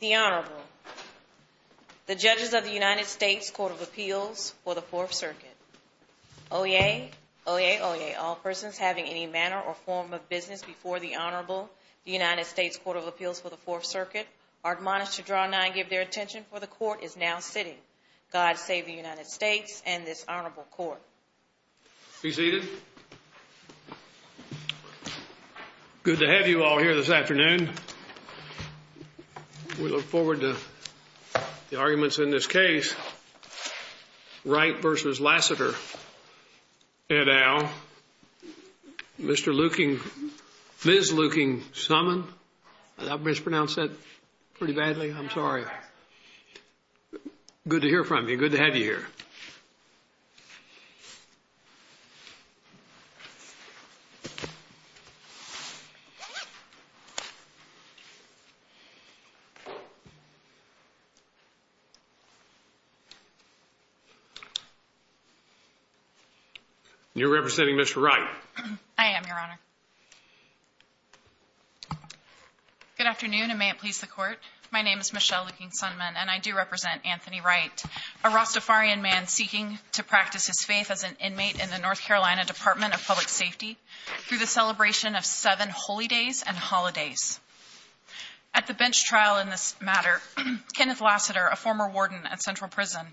The Honorable The judges of the United States Court of Appeals for the Fourth Circuit Oyez, Oyez, Oyez, all persons having any manner or form of business before the Honorable United States Court of Appeals for the Fourth Circuit are admonished to draw nine and give their attention for the court is now sitting. God save the United States and this honorable court. Be seated. Good to have you all here this afternoon. We look forward to the arguments in this case. Wright v. Lassiter, et al. Mr. Luking, Ms. Luking-Summon, I mispronounced that pretty badly. I'm sorry. Good to hear from you. Good to have you here. You're representing Mr. Wright. I am, Your Honor. Good afternoon. And may it please the court. My name is Michelle Luking-Summon and I do represent Anthony Wright, a Rastafarian man seeking to practice his faith as an inmate in the North Carolina Department of Public Safety through the celebration of seven holy days and holidays. At the bench trial in this matter, Kenneth Lassiter, a former warden at Central Prison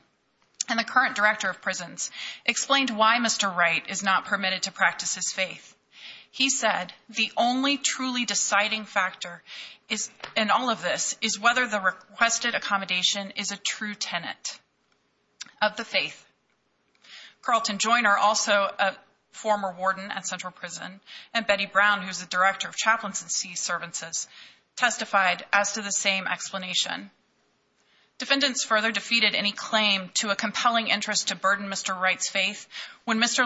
and the current director of prisons, explained why Mr. Wright is not permitted to practice his faith. He said the only truly deciding factor in all of this is whether the requested accommodation is a true tenet of the faith. Carlton Joiner, also a former warden at Central Prison, and Betty Brown, who's the director of Chaplains and Seeservants, testified as to the same explanation. Defendants further defeated any claim to a compelling interest to burden Mr.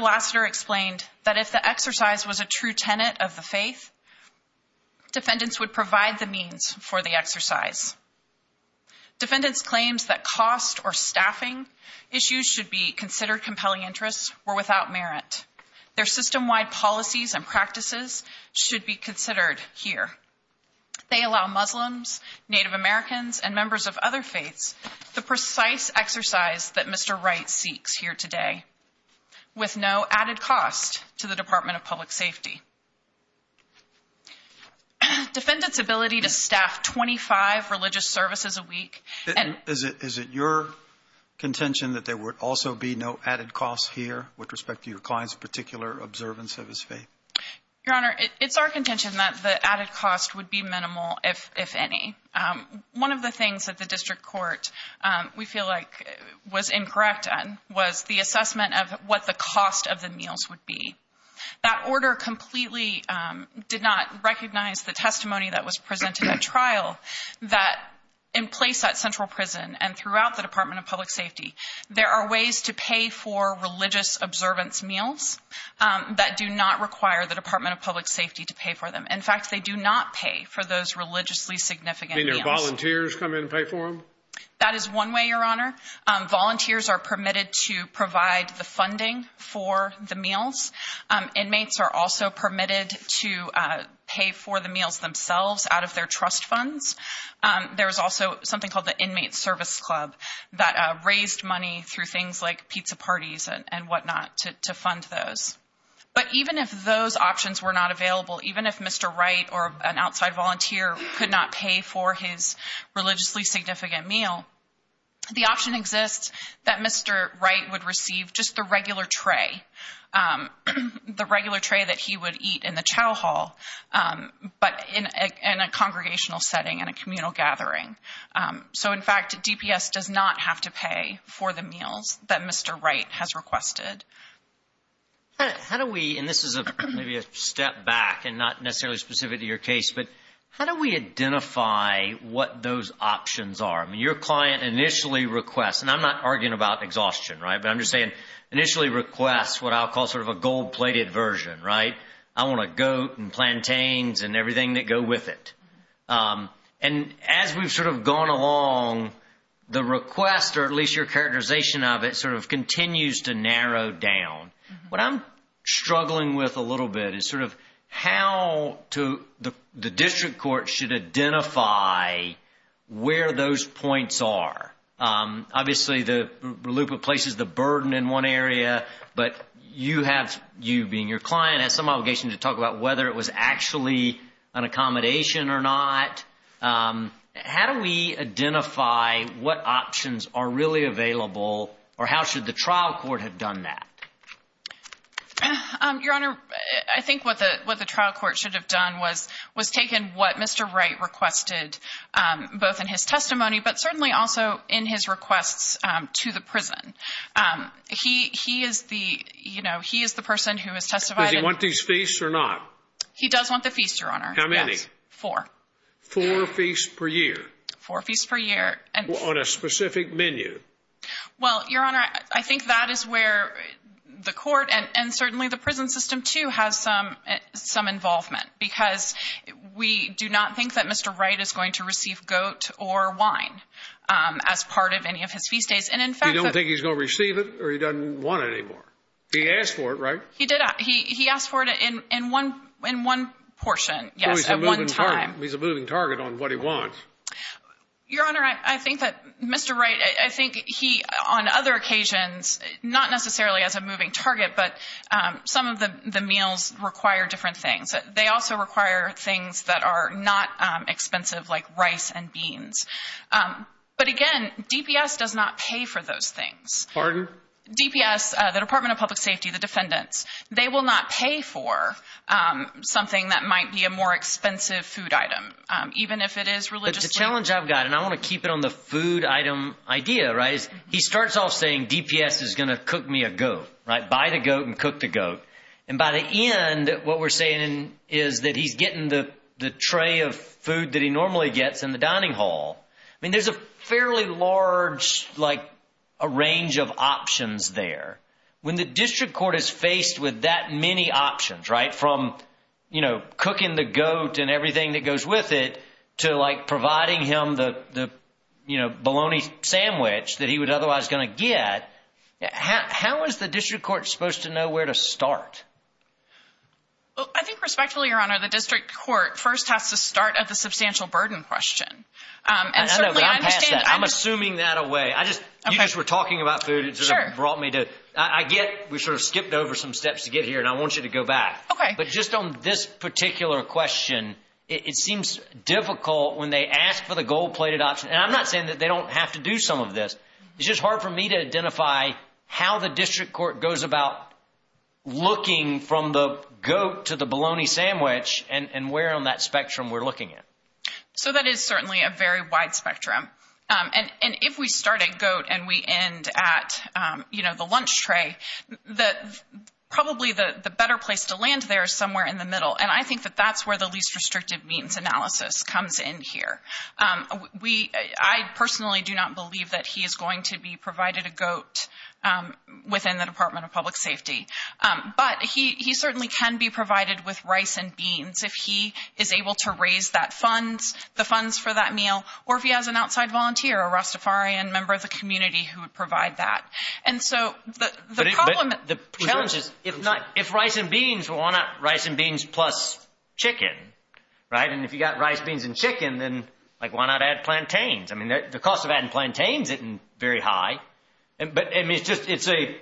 Lassiter explained that if the exercise was a true tenet of the faith, defendants would provide the means for the exercise. Defendants' claims that cost or staffing issues should be considered compelling interests were without merit. Their system-wide policies and practices should be considered here. They allow Muslims, Native Americans, and members of other faiths the precise exercise that Mr. Wright seeks here today. With no added cost to the Department of Public Safety. Defendants' ability to staff 25 religious services a week. Is it your contention that there would also be no added costs here with respect to your client's particular observance of his faith? Your Honor, it's our contention that the added cost would be minimal, if any. One of the things that the district court, we feel like, was incorrect on was the assessment of what the cost of the meals would be. That order completely did not recognize the testimony that was presented at trial that in place at Central Prison and throughout the Department of Public Safety, there are ways to pay for religious observance meals that do not require the Department of Public Safety to pay for them. In fact, they do not pay for those religiously significant meals. Do volunteers come in and pay for them? That is one way, Your Honor. Volunteers are permitted to provide the funding for the meals. Inmates are also permitted to pay for the meals themselves out of their trust funds. There is also something called the Inmate Service Club that raised money through things like pizza parties and whatnot to fund those. But even if those options were not available, even if Mr. Wright or an outside volunteer could not pay for his religiously significant meal, the option exists that Mr. Wright would receive just the regular tray, the regular tray that he would eat in the chow hall, but in a congregational setting and a communal gathering. So, in fact, DPS does not have to pay for the meals that Mr. Wright has requested. How do we, and this is maybe a step back and not necessarily specific to your case, but how do we identify what those options are? I mean, your client initially requests, and I'm not arguing about exhaustion, right? But I'm just saying initially requests what I'll call sort of a gold-plated version, right? I want a goat and plantains and everything that go with it. And as we've sort of gone along, the request or at least your characterization of it sort of continues to narrow down. What I'm struggling with a little bit is sort of how to, the district court should identify where those points are. Obviously, the loop replaces the burden in one area, but you have, you being your client, has some obligation to talk about whether it was actually an accommodation or not. How do we identify what options are really available or how should the trial court have done that? Your Honor, I think what the trial court should have done was taken what Mr. Wright requested, both in his testimony, but certainly also in his requests to the prison. He is the person who has testified. Does he want these feasts or not? He does want the feast, Your Honor. How many? Four. Four feasts per year? Four feasts per year. On a specific menu? Well, Your Honor, I think that is where the court and certainly the prison system, too, has some involvement because we do not think that Mr. Wright is going to receive goat or wine as part of any of his feast days. And in fact, You don't think he's going to receive it or he doesn't want it anymore? He asked for it, right? He did. He asked for it in one portion, yes, at one time. He's a moving target on what he wants. Your Honor, I think that Mr. Wright, I think he, on other occasions, not necessarily as a moving target, but some of the meals require different things. They also require things that are not expensive, like rice and beans. But again, DPS does not pay for those things. Pardon? DPS, the Department of Public Safety, the defendants, they will not pay for something that might be a more expensive food item, even if it is religiously. But the challenge I've got, and I want to keep it on the food item idea, right, is he starts off saying DPS is going to cook me a goat, right? Buy the goat and cook the goat. And by the end, what we're saying is that he's getting the tray of food that he normally gets in the dining hall. I mean, there's a fairly large, like, a range of options there. When the district court is faced with that many options, right, from, you know, cooking the goat and everything that goes with it to, like, providing him the, you know, bologna sandwich that he would otherwise going to get, how is the district court supposed to know where to start? Well, I think respectfully, Your Honor, the district court first has to start at the substantial burden question. I know, but I'm past that. I'm assuming that away. I just, you just were talking about food. Brought me to, I get, we sort of skipped over some steps to get here and I want you to go back. But just on this particular question, it seems difficult when they ask for the gold-plated option. And I'm not saying that they don't have to do some of this. It's just hard for me to identify how the district court goes about looking from the goat to the bologna sandwich and where on that spectrum we're looking at. So that is certainly a very wide spectrum. And if we start at goat and we end at, you know, the lunch tray, that probably the better place to land there is somewhere in the middle. And I think that that's where the least restrictive means analysis comes in here. We, I personally do not believe that he is going to be provided a goat within the Department of Public Safety. But he certainly can be provided with rice and beans if he is able to raise that meal, or if he has an outside volunteer, a Rastafarian member of the community who would provide that. And so the problem, the challenge is if not, if rice and beans, why not rice and beans plus chicken, right? And if you got rice, beans and chicken, then like why not add plantains? I mean, the cost of adding plantains isn't very high. But I mean, it's just, it's a,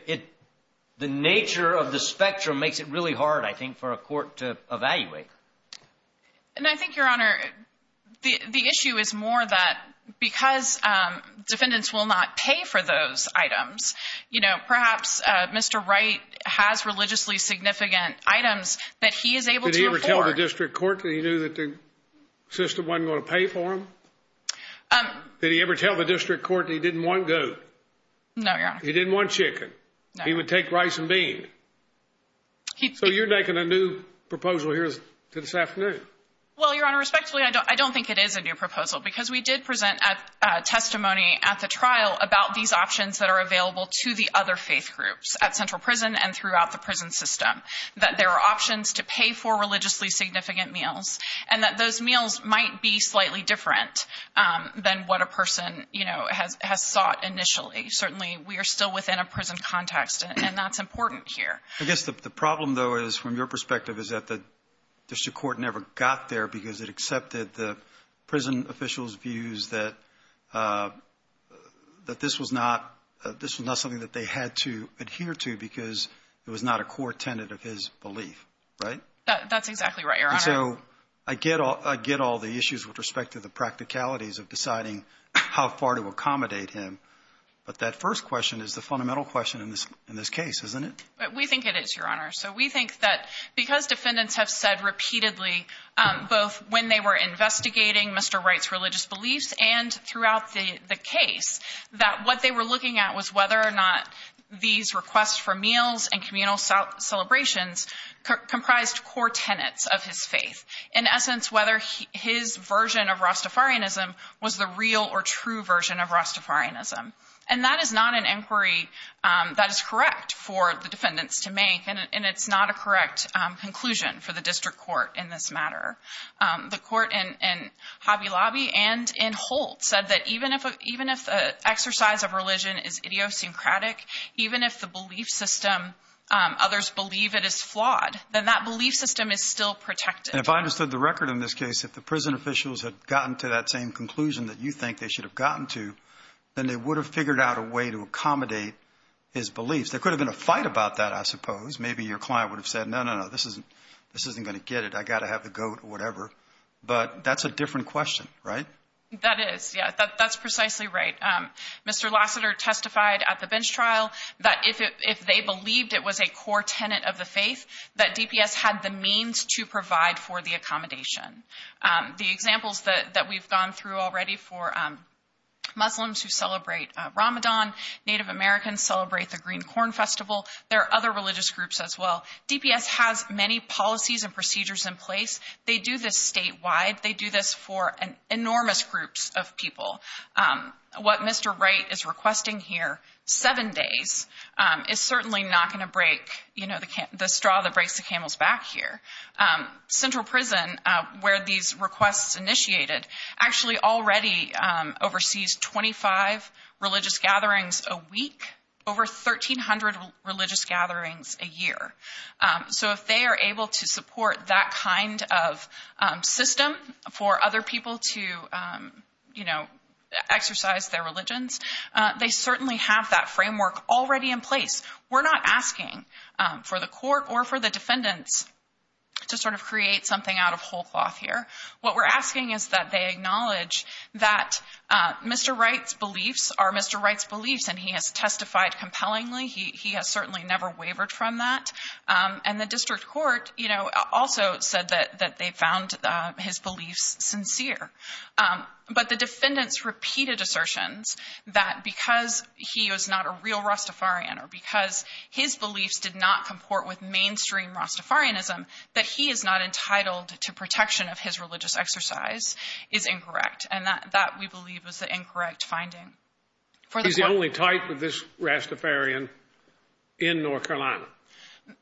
the nature of the spectrum makes it really hard, I think, for a court to evaluate. And I think, Your Honor, the issue is more that because defendants will not pay for those items, you know, perhaps Mr. Wright has religiously significant items that he is able to afford. Did he ever tell the district court that he knew that the system wasn't going to pay for them? Did he ever tell the district court that he didn't want goat? No, Your Honor. He didn't want chicken. He would take rice and bean. So you're making a new proposal here to this afternoon? Well, Your Honor, respectfully, I don't think it is a new proposal because we did present a testimony at the trial about these options that are available to the other faith groups at Central Prison and throughout the prison system. That there are options to pay for religiously significant meals and that those meals might be slightly different than what a person, you know, has, has sought initially. Certainly, we are still within a prison context and that's important here. I guess the problem, though, is from your perspective, is that the district court never got there because it accepted the prison officials' views that, uh, that this was not, this was not something that they had to adhere to because it was not a core tenet of his belief, right? That's exactly right, Your Honor. And so I get all, I get all the issues with respect to the practicalities of deciding how far to accommodate him. But that first question is the fundamental question in this, in this case, isn't it? We think it is, Your Honor. So we think that because defendants have said repeatedly, um, both when they were investigating Mr. Wright's religious beliefs and throughout the, the case, that what they were looking at was whether or not these requests for meals and communal celebrations comprised core tenets of his faith. In essence, whether his version of Rastafarianism was the real or true version of Rastafarianism. And that is not an inquiry, um, that is correct for the defendants to make. And it's not a correct, um, conclusion for the district court in this matter. Um, the court in, in Hobby Lobby and in Holt said that even if, even if the exercise of religion is idiosyncratic, even if the belief system, um, others believe it is flawed, then that belief system is still protected. And if I understood the record in this case, if the prison officials had gotten to that same conclusion that you think they should have gotten to, then they would have figured out a way to accommodate his beliefs. There could have been a fight about that, I suppose. Maybe your client would have said, no, no, no, this isn't, this isn't going to get it. I got to have the goat or whatever. But that's a different question, right? That is, yeah, that's precisely right. Um, Mr. Lassiter testified at the bench trial that if it, if they believed it was a core tenet of the faith, that DPS had the means to provide for the accommodation. Um, the examples that, that we've gone through already for, um, Muslims who celebrate, uh, Ramadan, Native Americans celebrate the green corn festival. There are other religious groups as well. DPS has many policies and procedures in place. They do this statewide. They do this for an enormous groups of people. Um, what Mr. Wright is requesting here, seven days, um, is certainly not going to break, you know, the, the straw that breaks the camel's back here. Um, Central Prison, uh, where these requests initiated actually already, um, oversees 25 religious gatherings a week, over 1300 religious gatherings a year. Um, so if they are able to support that kind of, um, system for other people to, um, you know, exercise their religions, uh, they certainly have that framework already in place. We're not asking, um, for the court or for the defendants to sort of create something out of whole cloth here. What we're asking is that they acknowledge that, uh, Mr. Wright's beliefs are Mr. Wright's beliefs and he has testified compellingly. He, he has certainly never wavered from that. Um, and the district court, you know, also said that, that they found, uh, his beliefs sincere. Um, but the defendants repeated assertions that because he was not a real Rastafarian or because his beliefs did not comport with mainstream Rastafarianism, that he is not entitled to protection of his religious exercise is incorrect. And that, that we believe was the incorrect finding. He's the only type of this Rastafarian in North Carolina.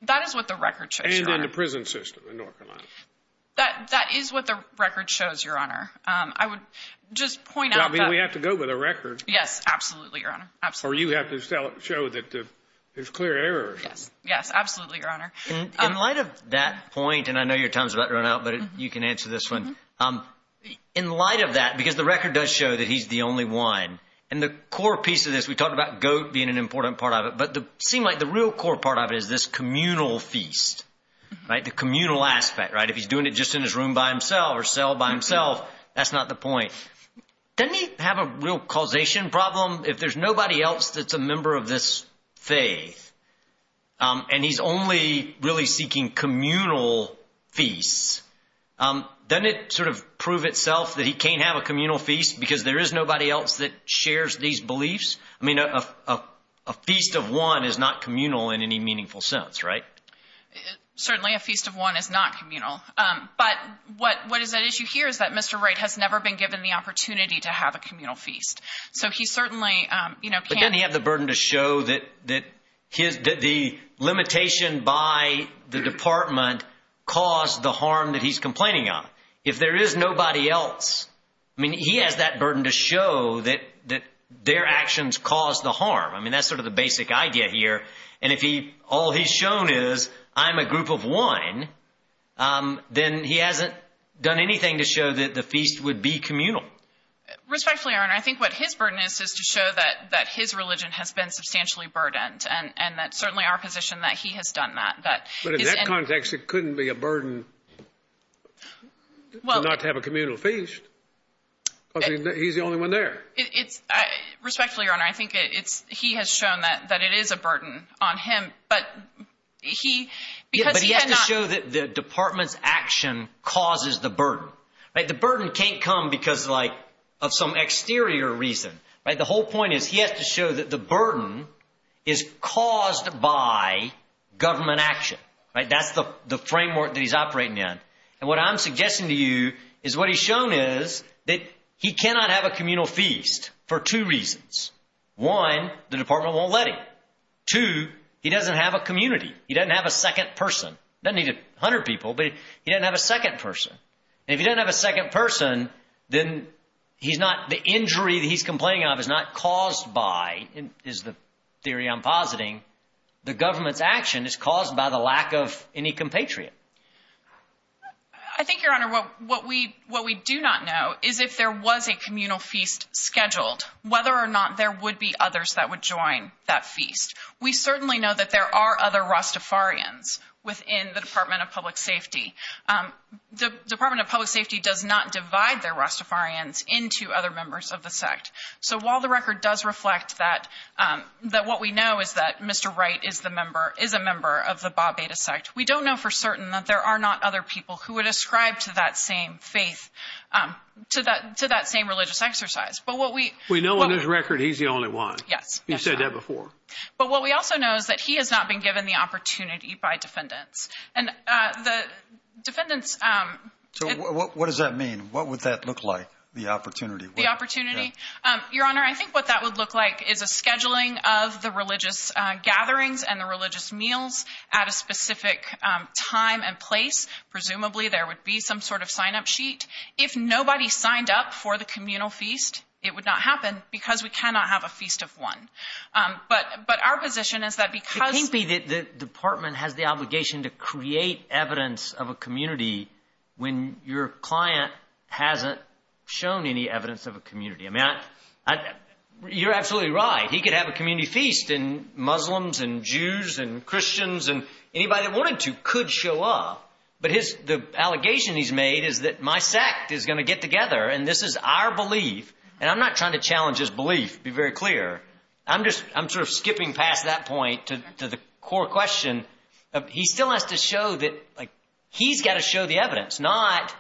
That is what the record shows. And in the prison system in North Carolina. That, that is what the record shows, Your Honor. Um, I would just point out that... I mean, we have to go with a record. Yes, absolutely, Your Honor. Absolutely. Or you have to sell it, show that there's clear error. Yes, yes, absolutely, Your Honor. In light of that point, and I know your time's about to run out, but you can answer this one, um, in light of that, because the record does show that he's the only one and the core piece of this, we talked about goat being an important part of it, but the, seem like the real core part of it is this communal feast, right? The communal aspect, right? If he's doing it just in his room by himself or cell by himself, that's not the point. Doesn't he have a real causation problem? If there's nobody else that's a member of this faith, um, and he's only really seeking communal feasts, um, doesn't it sort of prove itself that he can't have a communal feast because there is nobody else that shares these beliefs? I mean, a, a, a feast of one is not communal in any meaningful sense, right? Certainly a feast of one is not communal. Um, but what, what is at issue here is that Mr. Wright has never been given the opportunity to have a communal feast. So he certainly, um, you know, can't. But then he had the burden to show that, that his, that the limitation by the department caused the harm that he's complaining on. If there is nobody else, I mean, he has that burden to show that, that their actions caused the harm. I mean, that's sort of the basic idea here. And if he, all he's shown is I'm a group of one. Um, then he hasn't done anything to show that the feast would be communal. Respectfully, Your Honor. I think what his burden is, is to show that, that his religion has been substantially burdened and, and that certainly our position that he has done that. But in that context, it couldn't be a burden to not have a communal feast. Cause he's the only one there. It's, I respectfully, Your Honor, I think it's, he has shown that, that it is a burden on him, but he, because he had not. But he had to show that the department's action causes the burden, right? The burden can't come because like of some exterior reason, right? The whole point is he has to show that the burden is caused by government action, right? That's the framework that he's operating in. And what I'm suggesting to you is what he's shown is that he cannot have a communal feast for two reasons. One, the department won't let him. Two, he doesn't have a community. He doesn't have a second person. Doesn't need a hundred people, but he doesn't have a second person. And if he doesn't have a second person, then he's not, the injury that he's complaining of is not caused by, is the theory I'm positing, the government's action is caused by the lack of any compatriot. I think, Your Honor, what we, what we do not know is if there was a communal feast scheduled, whether or not there would be others that would join that feast, we certainly know that there are other Rastafarians within the department of public safety. The department of public safety does not divide their Rastafarians into other members of the sect. So while the record does reflect that, that what we know is that Mr. Wright is the member, is a member of the Ba'a Beta sect. We don't know for certain that there are not other people who would ascribe to that same faith, to that, to that same religious exercise. But what we- We know on his record, he's the only one. Yes. You've said that before. But what we also know is that he has not been given the opportunity by defendants. And the defendants- So what does that mean? What would that look like, the opportunity? The opportunity? Your Honor, I think what that would look like is a scheduling of the religious gatherings and the religious meals at a specific time and place. Presumably there would be some sort of signup sheet. If nobody signed up for the communal feast, it would not happen because we cannot have a feast of one. But, but our position is that because- I agree that the department has the obligation to create evidence of a community when your client hasn't shown any evidence of a community. I mean, I, I, you're absolutely right. He could have a community feast and Muslims and Jews and Christians and anybody that wanted to could show up. But his, the allegation he's made is that my sect is going to get together. And this is our belief. And I'm not trying to challenge his belief, to be very clear. I'm just, I'm sort of skipping past that point to the core question. He still has to show that, like, he's got to show the evidence, not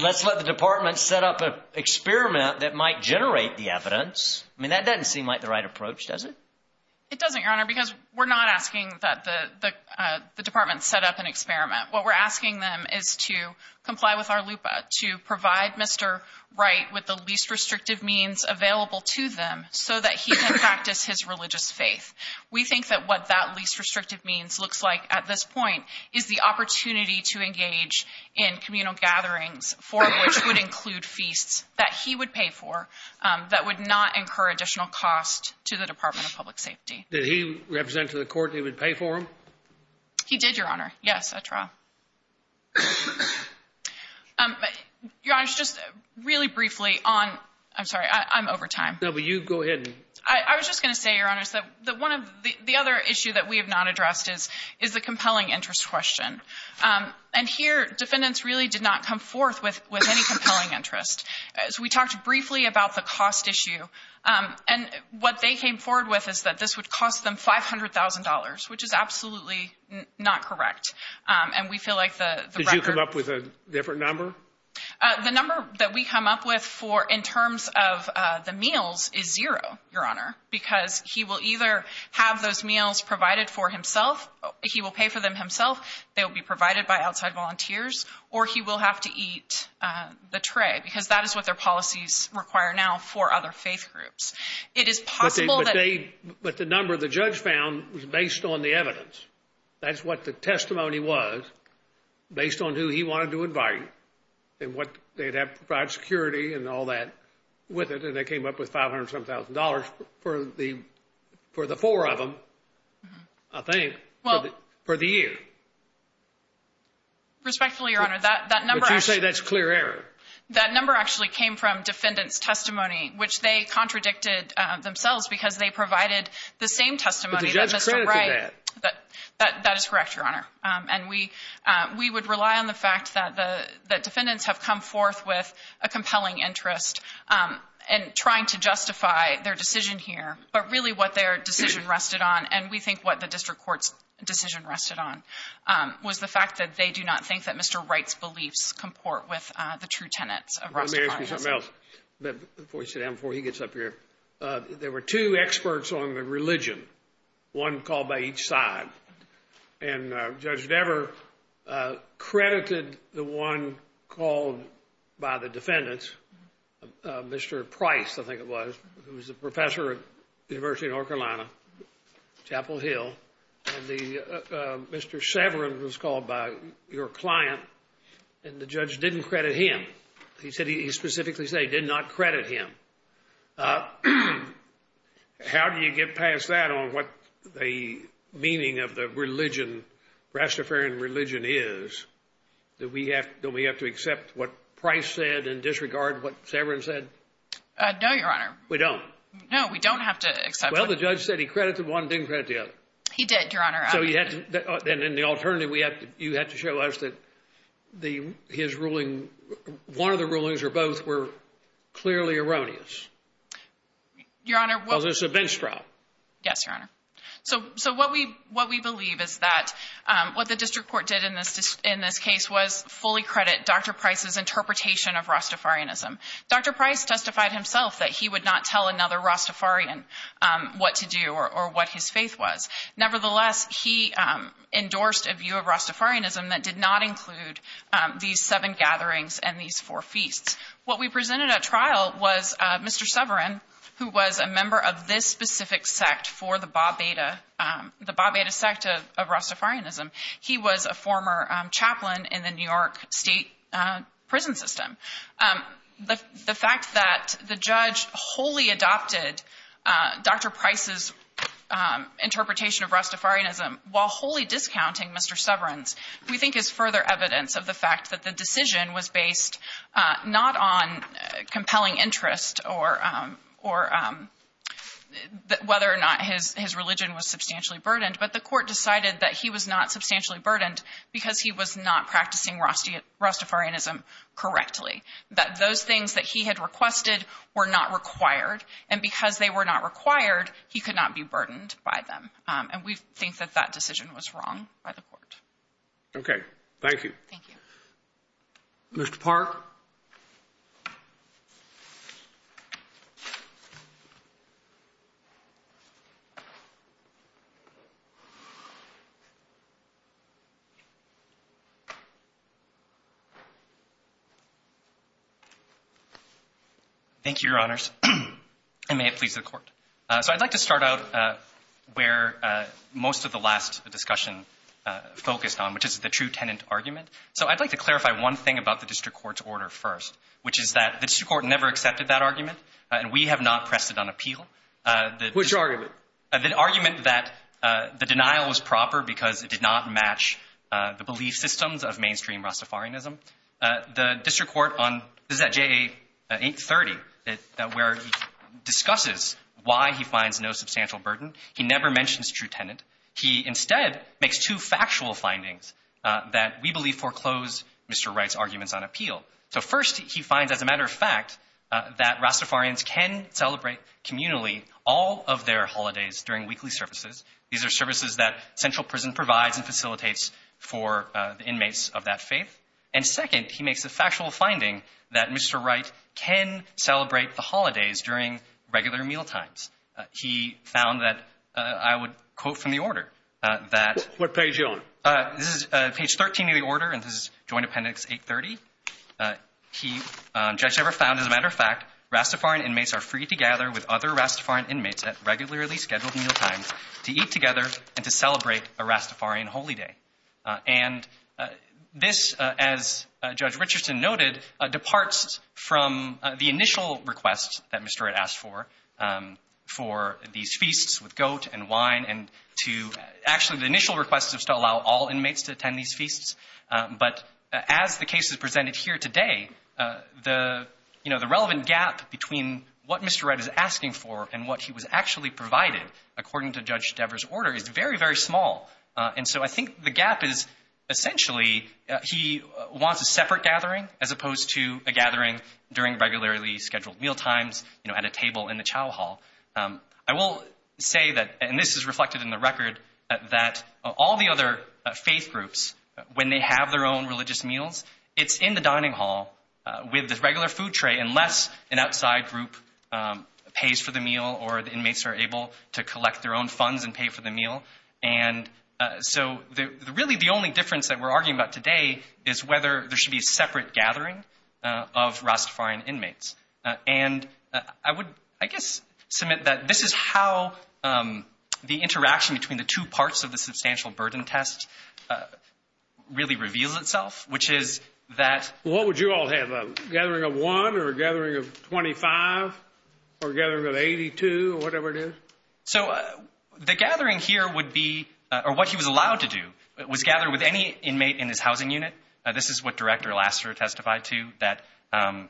let's let the department set up an experiment that might generate the evidence. I mean, that doesn't seem like the right approach, does it? It doesn't, Your Honor, because we're not asking that the, the, uh, the department set up an experiment. What we're asking them is to comply with our LUPA, to provide Mr. Wright with the least restrictive means available to them so that he can practice his religious faith. We think that what that least restrictive means looks like at this point is the opportunity to engage in communal gatherings, four of which would include feasts that he would pay for, um, that would not incur additional costs to the department of public safety. Did he represent to the court that he would pay for them? He did, Your Honor. Yes, I try. Um, Your Honor, just really briefly on, I'm sorry, I'm over time. No, but you go ahead. I was just going to say, Your Honor, that one of the, the other issue that we have not addressed is, is the compelling interest question. Um, and here defendants really did not come forth with, with any compelling interest as we talked briefly about the cost issue, um, and what they came forward with is that this would cost them $500,000, which is absolutely not correct. Um, and we feel like the record... Did you come up with a different number? Uh, the number that we come up with for, in terms of, uh, the meals is zero, Your Honor, because he will either have those meals provided for himself. He will pay for them himself. They will be provided by outside volunteers, or he will have to eat, uh, the tray because that is what their policies require now for other faith groups. It is possible that... But they, but the number the judge found was based on the evidence. That's what the testimony was based on who he wanted to invite and what they'd have, provide security and all that with it. And they came up with $500,000 for the, for the four of them, I think, for the year. Respectfully, Your Honor, that, that number... But you say that's clear error. That number actually came from defendants' testimony, which they contradicted themselves because they provided the same testimony that Mr. Wright... That, that is correct, Your Honor. Um, and we, uh, we would rely on the fact that the, that defendants have come forth with a compelling interest, um, in trying to justify their decision here, but really what their decision rested on, and we think what the district court's decision rested on, um, was the fact that they do not think that Mr. Wright's beliefs comport with, uh, the true tenets of Roscoe Cronkite's policy. Let me ask you something else before he gets up here. Uh, there were two experts on the religion, one called by each side. And, uh, Judge Dever, uh, credited the one called by the defendants, uh, Mr. Price, I think it was, who was a professor at the University of North Carolina, Chapel Hill, and the, uh, uh, Mr. Severin was called by your client, and the judge didn't credit him. He said, he specifically said he did not credit him. Uh, how do you get past that on what the meaning of the religion, Rastafarian religion is, that we have, don't we have to accept what Price said and disregard what Severin said? Uh, no, Your Honor. We don't. No, we don't have to accept. Well, the judge said he credited one, didn't credit the other. He did, Your Honor. So you had to, then in the alternative, we have to, you had to show us that the, his ruling, one of the rulings or both were clearly erroneous. Your Honor. Was this a bench trial? Yes, Your Honor. So, so what we, what we believe is that, um, what the district court did in this, in this case was fully credit Dr. Price's interpretation of Rastafarianism. Dr. Price testified himself that he would not tell another Rastafarian, um, what to do or, or what his faith was. Nevertheless, he, um, endorsed a view of Rastafarianism that did not include, um, these seven gatherings and these four feasts. What we presented at trial was, uh, Mr. Severin, who was a member of this specific sect for the Babeda, um, the Babeda sect of, of Rastafarianism. He was a former chaplain in the New York state, uh, prison system. Um, the, the fact that the judge wholly adopted, uh, Dr. Price's, um, interpretation of Rastafarianism while wholly discounting Mr. Severin's, we think is further evidence of the fact that the decision was based, uh, not on compelling interest or, um, or, um, whether or not his, his religion was substantially burdened. But the court decided that he was not substantially burdened because he was not practicing Rastafarianism correctly. That those things that he had requested were not required. And because they were not required, he could not be burdened by them. Um, and we think that that decision was wrong by the court. Okay. Thank you. Thank you. Mr. Park. Thank you, your honors. And may it please the court. So I'd like to start out, uh, where, uh, most of the last discussion, uh, focused on, which is the true tenant argument. So I'd like to clarify one thing about the district court's order first, which is that the district court never accepted that argument and we have not pressed it on appeal. Uh, the argument that, uh, the denial was proper because it did not match, uh, the belief systems of mainstream Rastafarianism. Uh, the district court on, this is at JA 830, that, that where he discusses why he finds no substantial burden. He never mentions true tenant. He instead makes two factual findings, uh, that we believe foreclose Mr. Wright's arguments on appeal. So first he finds as a matter of fact, uh, that Rastafarians can celebrate communally all of their holidays during weekly services. These are services that central prison provides and facilitates for, uh, the inmates of that faith. And second, he makes a factual finding that Mr. Wright can celebrate the holidays during regular mealtimes. Uh, he found that, uh, I would quote from the order, uh, that, uh, page 13 of the order and this is joint appendix 830. Uh, he, um, judge never found as a matter of fact, Rastafarian inmates are free to gather with other Rastafarian inmates at regularly scheduled meal times to eat together and to celebrate a Rastafarian holy day. Uh, and, uh, this, uh, as, uh, judge Richardson noted, uh, departs from, uh, the initial request that Mr. Wright asked for, um, for these feasts with goat and wine and to actually the initial request is to allow all inmates to attend these feasts. Um, but as the case is presented here today, uh, the, you know, the relevant gap between what Mr. Wright is asking for and what he was actually provided according to judge Devers order is very, very small. Uh, and so I think the gap is essentially, uh, he wants a separate gathering as opposed to a gathering during regularly scheduled meal times, you know, at a table in the chow hall. Um, I will say that, and this is reflected in the record that all the other faith groups, when they have their own religious meals, it's in the dining hall, uh, with the regular food tray, unless an outside group, um, pays for the meal or the inmates are able to collect their own funds and pay for the meal. And, uh, so the, the really, the only difference that we're arguing about today is whether there should be a separate gathering, uh, of Rastafarian inmates. Uh, and, uh, I would, I guess, submit that this is how, um, the interaction between the two parts of the substantial burden test, uh, really reveals itself, which is that what would you all have a gathering of one or a gathering of 25 or gathering of 82 or whatever it is. So, uh, the gathering here would be, uh, or what he was allowed to do was gather with any inmate in his housing unit. Uh, this is what Director Lassiter testified to that, um,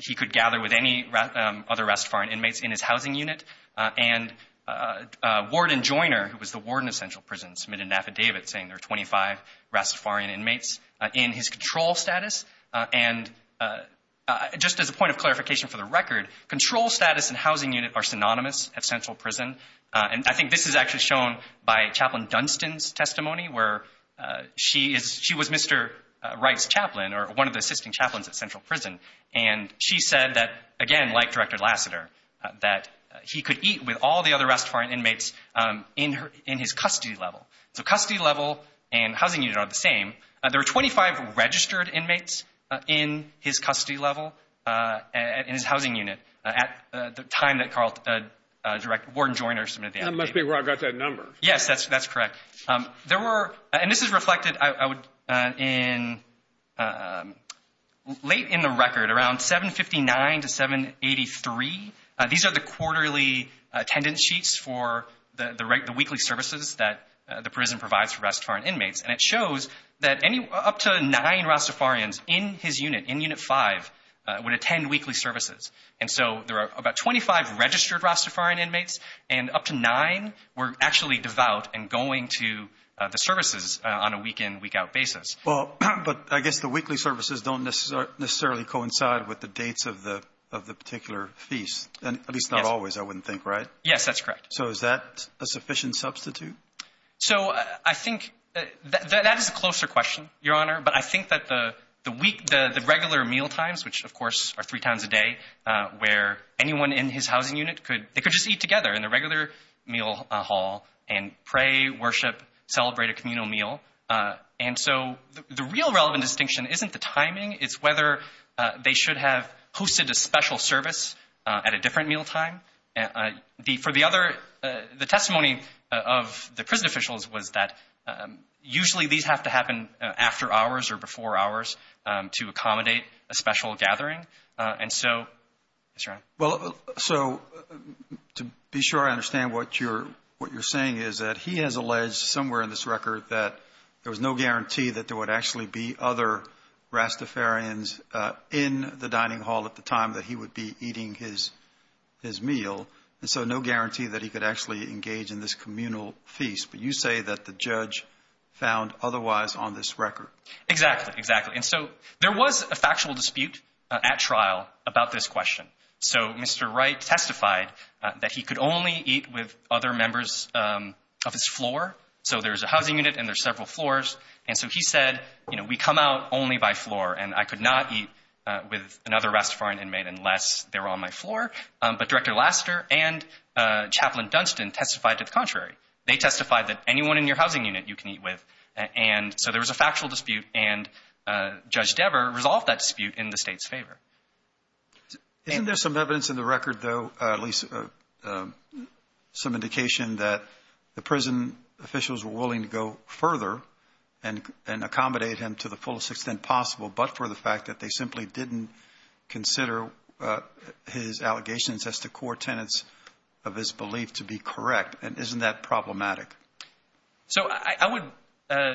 he could gather with any other Rastafarian inmates in his housing unit, uh, and, uh, uh, Warden Joiner, who was the warden of Central Prison, submitted an affidavit saying there are 25 Rastafarian inmates, uh, in his control status. Uh, and, uh, uh, just as a point of clarification for the record, control status and housing unit are synonymous at Central Prison. Uh, and I think this is actually shown by Chaplain Dunstan's testimony where, uh, she is, she was Mr. Uh, Wright's chaplain or one of the assisting chaplains at Central Prison. And she said that again, like Director Lassiter, uh, that, uh, he could eat with all the other Rastafarian inmates, um, in her, in his custody level. So custody level and housing unit are the same. Uh, there were 25 registered inmates, uh, in his custody level, uh, in his custody level, uh, and, uh, uh, Warden Joiner submitted the affidavit. And that must be where I got that number. Yes, that's, that's correct. Um, there were, and this is reflected, I would, uh, in, uh, um, late in the record, around 759 to 783, uh, these are the quarterly, uh, attendance sheets for the, the regular, the weekly services that, uh, the prison provides for Rastafarian inmates. And it shows that any, up to nine Rastafarians in his unit, in unit five, uh, would attend weekly services. And so there are about 25 registered Rastafarian inmates and up to nine were actually devout and going to, uh, the services, uh, on a week in, week out basis. Well, but I guess the weekly services don't necessarily coincide with the dates of the, of the particular feast. And at least not always, I wouldn't think, right? Yes, that's correct. So is that a sufficient substitute? So I think that, that is a closer question, Your Honor. But I think that the, the week, the regular mealtimes, which of course are three times a day, uh, where anyone in his housing unit could, they could just eat together in the regular meal hall and pray, worship, celebrate a communal meal. Uh, and so the real relevant distinction isn't the timing, it's whether, uh, they should have hosted a special service, uh, at a different mealtime, uh, the, for the other, uh, the testimony of the prison officials was that, um, usually these have to happen after hours or before hours, um, to accommodate a special gathering, uh, and so, yes, Your Honor. Well, so to be sure I understand what you're, what you're saying is that he has alleged somewhere in this record that there was no guarantee that there would actually be other Rastafarians, uh, in the dining hall at the time that he would be eating his, his meal. And so no guarantee that he could actually engage in this communal feast. But you say that the judge found otherwise on this record. Exactly, exactly. And so there was a factual dispute, uh, at trial about this question. So Mr. Wright testified, uh, that he could only eat with other members, um, of his floor. So there's a housing unit and there's several floors. And so he said, you know, we come out only by floor and I could not eat, uh, with another Rastafarian inmate unless they were on my floor. Um, but Director Laster and, uh, Chaplain Dunstan testified to the contrary. They testified that anyone in your housing unit you can eat with. And so there was a factual dispute and, uh, Judge Dever resolved that dispute in the state's favor. Isn't there some evidence in the record though, uh, at least, uh, um, some indication that the prison officials were willing to go further and, and accommodate him to the fullest extent possible, but for the fact that they simply didn't consider, uh, his allegations as the core tenets of his belief to be correct. And isn't that problematic? So I, I would, uh,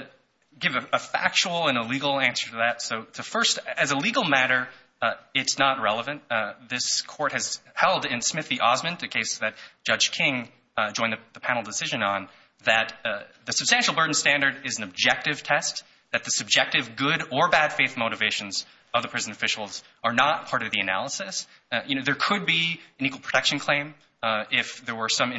give a factual and a legal answer to that. So to first as a legal matter, uh, it's not relevant. Uh, this court has held in Smith v. Osmond, the case that Judge King, uh, joined the panel decision on that, uh, the substantial burden standard is an objective test that the subjective good or bad faith motivations of the prison officials are not part of the analysis. Uh, you know, there could be an equal protection claim, uh, if there were some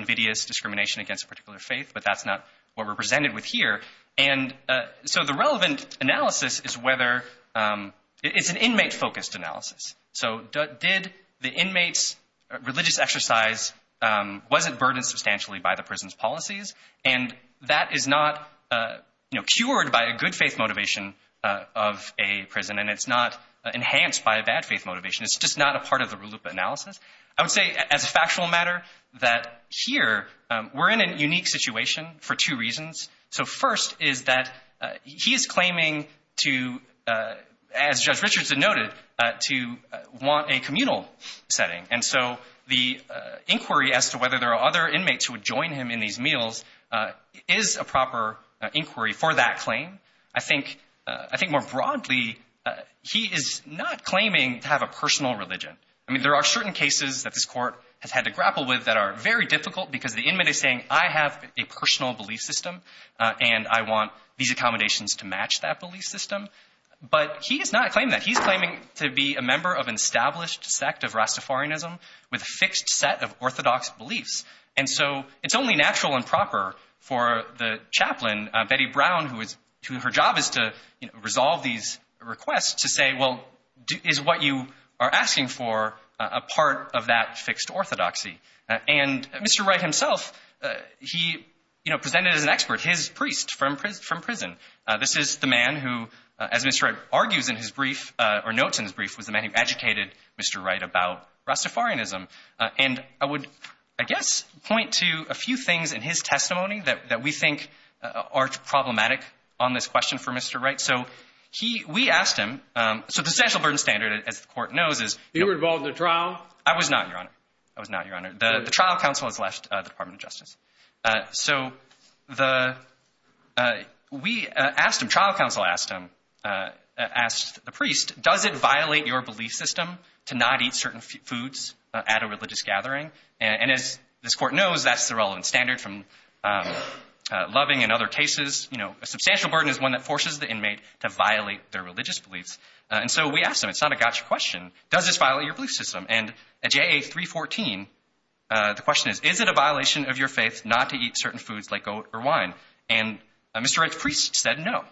that's not what we're presented with here. And, uh, so the relevant analysis is whether, um, it's an inmate focused analysis. So did the inmates religious exercise, um, wasn't burdened substantially by the prison's policies. And that is not, uh, you know, cured by a good faith motivation, uh, of a prison. And it's not enhanced by a bad faith motivation. It's just not a part of the RLUIPA analysis. I would say as a factual matter that here, um, we're in a unique situation for two reasons. So first is that, uh, he is claiming to, uh, as Judge Richardson noted, uh, to want a communal setting. And so the, uh, inquiry as to whether there are other inmates who would join him in these meals, uh, is a proper inquiry for that claim. I think, uh, I think more broadly, uh, he is not claiming to have a personal religion. I mean, there are certain cases that this court has had to grapple with that are very difficult because the inmate is saying, I have a personal belief system, uh, and I want these accommodations to match that belief system. But he does not claim that. He's claiming to be a member of an established sect of Rastafarianism with a fixed set of orthodox beliefs. And so it's only natural and proper for the chaplain, uh, Betty Brown, who is, who her job is to, you know, resolve these requests to say, well, is what you are asking for a part of that fixed orthodoxy? And Mr. Wright himself, uh, he, you know, presented as an expert, his priest from prison, from prison. Uh, this is the man who, uh, as Mr. Wright argues in his brief, uh, or notes in his brief was the man who educated Mr. Wright about Rastafarianism. Uh, and I would, I guess, point to a few things in his testimony that, that we think, uh, are problematic on this question for Mr. Wright. So he, we asked him, um, so the essential burden standard as the court knows is- You were involved in a trial? I was not, Your Honor. I was not, Your Honor. The trial counsel has left, uh, the Department of Justice. Uh, so the, uh, we, uh, asked him, trial counsel asked him, uh, asked the priest, does it violate your belief system to not eat certain foods at a religious gathering? And as this court knows, that's the relevant standard from, um, uh, loving and other cases, you know, a substantial burden is one that forces the inmate to violate their religious beliefs. Uh, and so we asked him, it's not a gotcha question. Does this violate your belief system? And at JA 314, uh, the question is, is it a violation of your faith not to eat certain foods like goat or wine? And, uh, Mr. Wright's priest said no.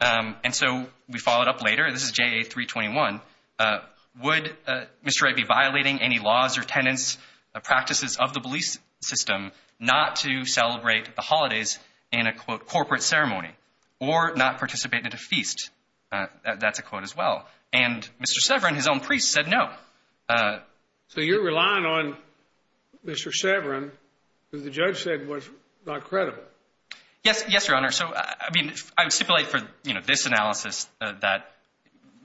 Um, and so we followed up later, this is JA 321, uh, would, uh, Mr. Wright be violating any laws or tenants, uh, practices of the belief system not to celebrate the holidays in a quote corporate ceremony or not participate in a feast? Uh, that's a quote as well. And Mr. Severin, his own priest said no. Uh, so you're relying on Mr. Severin, who the judge said was not credible. Yes. Yes, Your Honor. So, I mean, I would stipulate for, you know, this analysis, uh, that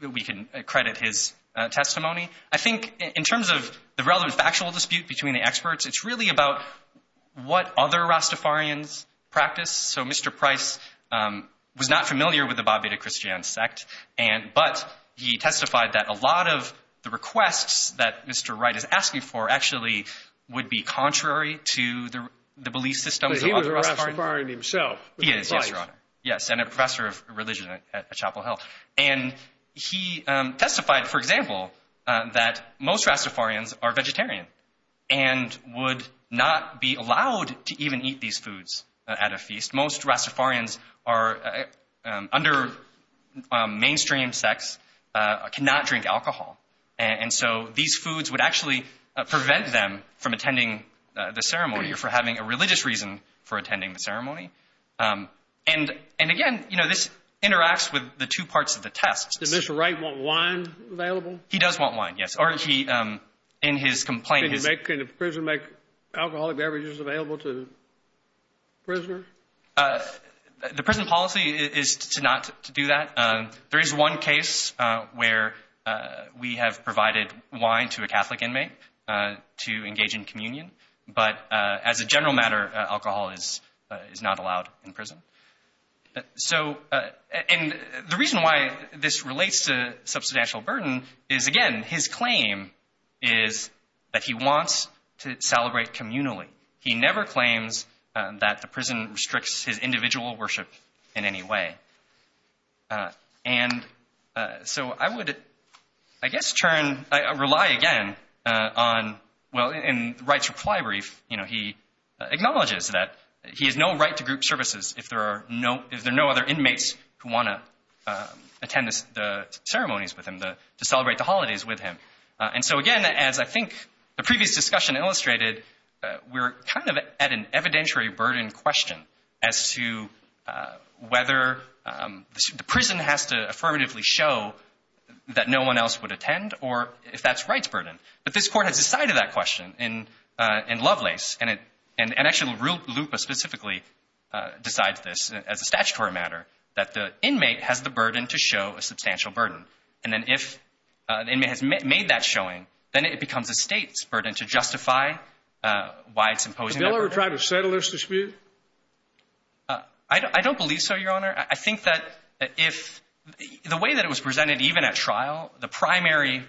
we can credit his testimony. I think in terms of the relevant factual dispute between the experts, it's really about what other Rastafarians practice. So Mr. Price, um, was not familiar with the Babida Christian sect and, but he testified that a lot of the requests that Mr. Wright is asking for actually would be contrary to the, the belief system. But he was a Rastafarian himself. He is, yes, Your Honor. Yes. And a professor of religion at Chapel Hill. And he, um, testified, for example, uh, that most Rastafarians are vegetarian and would not be allowed to even eat these foods at a feast. Most Rastafarians are, uh, um, under, um, mainstream sex, uh, cannot drink alcohol. And so these foods would actually prevent them from attending the ceremony or for having a religious reason for attending the ceremony. Um, and, and again, you know, this interacts with the two parts of the test. Does Mr. Wright want wine available? He does want wine. Yes. Or he, um, in his complaint, Can a prisoner make alcoholic beverages available to prisoners? Uh, the prison policy is to not do that. Um, there is one case, uh, where, uh, we have provided wine to a Catholic inmate, uh, to engage in communion. But, uh, as a general matter, uh, alcohol is, uh, is not allowed in prison. So, uh, and the reason why this relates to substantial burden is again, his claim is that he wants to celebrate communally. He never claims that the prison restricts his individual worship in any way. Uh, and, uh, so I would, I guess, turn, rely again, uh, on, well, in rights reply brief, you know, he acknowledges that he has no right to group services if there are no, if there are no other inmates who want to, uh, attend the ceremonies with him, to celebrate the holidays with him. Uh, and so again, as I think the previous discussion illustrated, uh, we're kind of at an evidentiary burden question as to, uh, whether, um, the prison has to affirmatively show that no one else would attend or if that's Wright's burden. But this court has decided that question in, uh, in Lovelace and it, and actually the real loop specifically, uh, decides this as a statutory matter, that the inmate has the burden to show a substantial burden. And then if, uh, the inmate has made that showing, then it becomes a state's burden to justify, uh, why it's imposing that burden. Did the bill ever try to settle this dispute? Uh, I don't, I don't believe so, Your Honor. I think that if the way that it was presented, even at trial, the primary,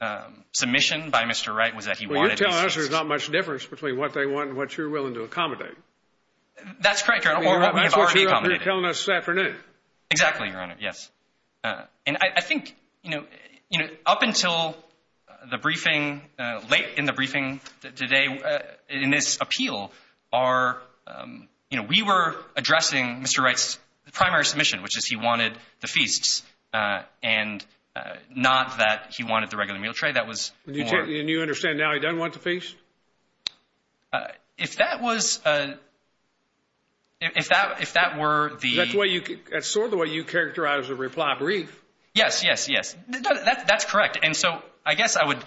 um, submission by Mr. Wright was that he wanted... Well, you're telling us there's not much difference between what they want and what you're willing to accommodate. That's correct, Your Honor. Or what we have already accommodated. That's what you're telling us this afternoon. Exactly, Your Honor. Yes. Uh, and I, I think, you know, you know, up until the briefing, uh, late in the briefing today, uh, in this appeal are, um, you know, we were addressing Mr. Wright's primary submission, which is he wanted the feasts, uh, and, uh, not that he wanted the regular meal tray. That was more... And you understand now he doesn't want the feasts? Uh, if that was, uh, if that, if that were the... That's the way you, that's sort of the way you characterize the reply brief. Yes, yes, yes. That's correct. And so I guess I would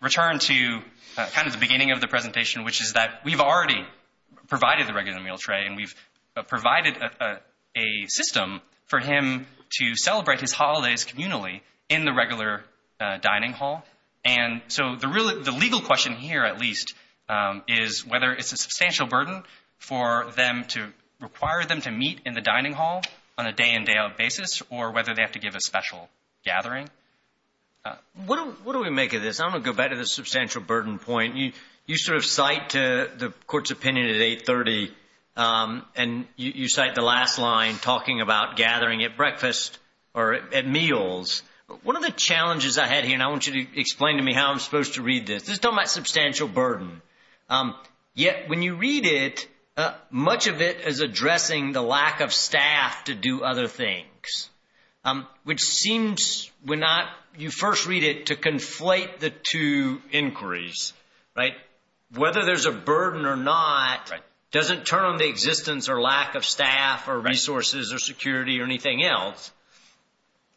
return to, uh, kind of the beginning of the presentation, which is that we've already provided the regular meal tray and we've provided a system for him to celebrate his holidays communally in the regular, uh, dining hall. And so the real, the legal question here, at least, um, is whether it's a substantial burden for them to require them to meet in the dining hall on a day in, day out basis, or whether they have to give a special gathering. Uh, what do, what do we make of this? I'm going to go back to the substantial burden point. You, you sort of cite to the court's opinion at 830, um, and you, you cite the last line talking about gathering at breakfast or at meals. One of the challenges I had here, and I want you to explain to me how I'm supposed to read this. This is talking about substantial burden. Um, yet when you read it, uh, much of it is addressing the lack of staff to do other things. Um, which seems we're not, you first read it to conflate the two inquiries, right? Whether there's a burden or not, doesn't turn on the existence or lack of staff or resources or security or anything else.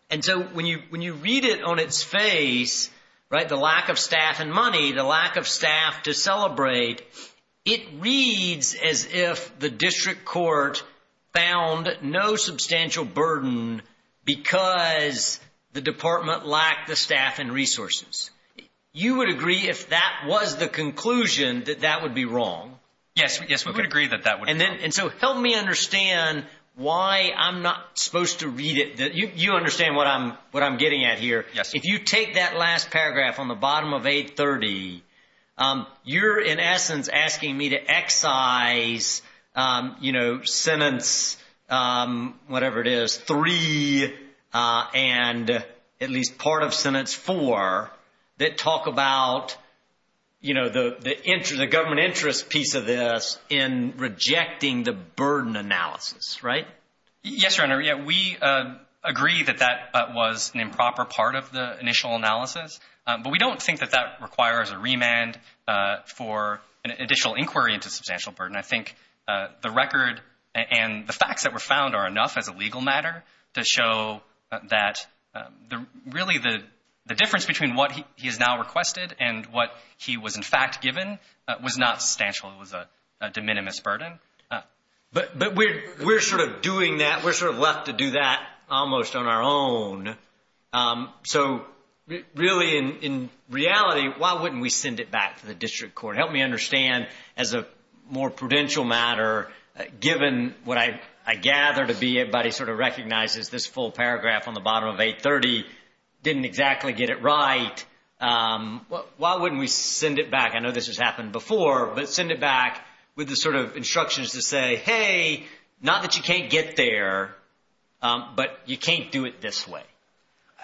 And so when you, when you read it on its face, right? The lack of staff and money, the lack of staff to celebrate, it reads as if the district court found no substantial burden because the department lacked the staff and resources. You would agree if that was the conclusion that that would be wrong? Yes. Yes. We would agree that that would be wrong. And so help me understand why I'm not supposed to read it that you, you understand what I'm, what I'm getting at here. Yes. If you take that last paragraph on the bottom of 830, um, you're in essence asking me to excise, um, you know, sentence, um, whatever it is, three, uh, and at least part of sentence four that talk about, you know, the, the interest, piece of this in rejecting the burden analysis, right? Yes, Your Honor. Yeah. We, uh, agree that that was an improper part of the initial analysis. Um, but we don't think that that requires a remand, uh, for an additional inquiry into substantial burden. I think, uh, the record and the facts that were found are enough as a legal matter to show that, um, the really the, the difference between what he has now and what he had initially was a, a de minimis burden. Uh, but, but we're, we're sort of doing that. We're sort of left to do that almost on our own. Um, so really in, in reality, why wouldn't we send it back to the district court? Help me understand as a more prudential matter, given what I, I gather to be everybody sort of recognizes this full paragraph on the bottom of 830 didn't exactly get it right. Um, why wouldn't we send it back? I know this has happened before, but send it back with the sort of instructions to say, Hey, not that you can't get there, um, but you can't do it this way.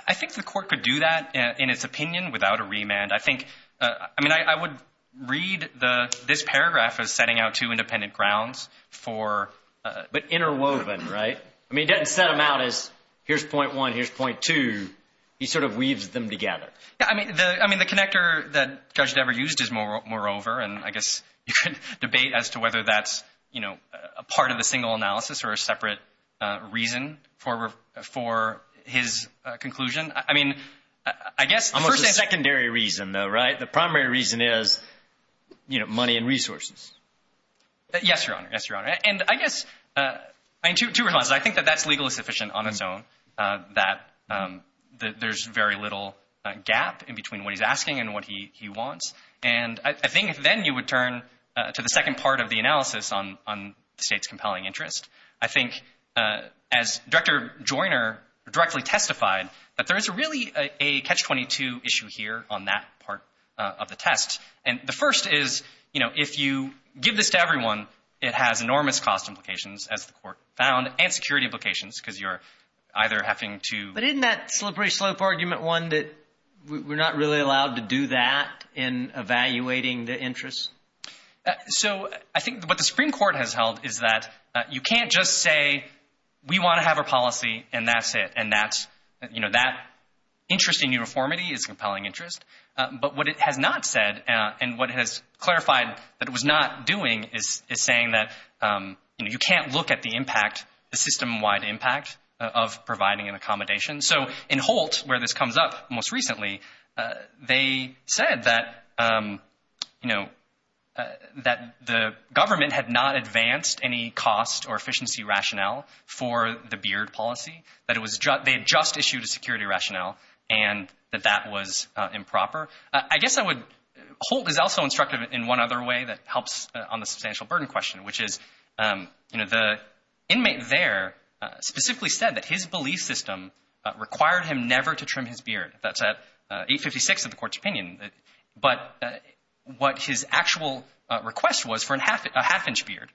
I think the court could do that in its opinion without a remand. I think, uh, I mean, I, I would read the, this paragraph as setting out two independent grounds for, uh, but interwoven, right? I mean, it doesn't set them out as here's point one, here's point two. He sort of weaves them together. I mean, the, I mean, the connector that judge never used is more, more over. And I guess you could debate as to whether that's, you know, a part of the single analysis or a separate reason for, for his conclusion. I mean, I guess the secondary reason though, right? The primary reason is, you know, money and resources. Yes, Your Honor. Yes, Your Honor. And I guess, uh, I mean, two, two responses. I think that that's legally sufficient on its own, uh, that, um, that there's very little, uh, gap in between what he's asking and what he, he wants. And I think then you would turn, uh, to the second part of the analysis on, on the state's compelling interest. I think, uh, as Director Joyner directly testified that there is a really a catch 22 issue here on that part of the test. And the first is, you know, if you give this to everyone, it has enormous cost implications as the court found and security implications because you're either having to. But isn't that slippery slope argument one that we're not really allowed to do that in evaluating the interest? So I think what the Supreme Court has held is that you can't just say, we want to have a policy and that's it. And that's, you know, that interest in uniformity is compelling interest. Uh, but what it has not said, uh, and what has clarified that it was not doing is, is saying that, um, you know, you can't look at the impact, the system wide impact of providing an accommodation. So in Holt, where this comes up most recently, uh, they said that, um, you know, uh, that the government had not advanced any cost or efficiency rationale for the Beard policy, that it was just, they had just issued a security rationale and that that was improper. I guess I would, Holt is also instructive in one other way that helps on the specifically said that his belief system required him never to trim his beard. That's at 856 of the Court's opinion. But, uh, what his actual request was for a half, a half-inch beard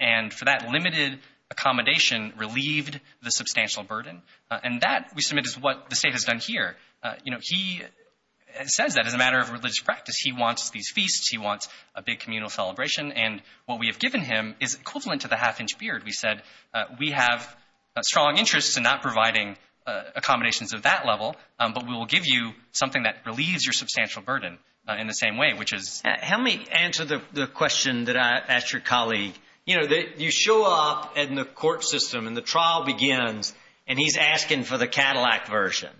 and for that limited accommodation relieved the substantial burden. Uh, and that we submit is what the State has done here. Uh, you know, he says that as a matter of religious practice, he wants these feasts, he wants a big communal celebration. And what we have given him is equivalent to the half-inch beard. We said, uh, we have a strong interest in not providing, uh, accommodations of that level, um, but we will give you something that relieves your substantial burden, uh, in the same way, which is. How many answer the question that I asked your colleague, you know, that you show up in the court system and the trial begins and he's asking for the Cadillac version,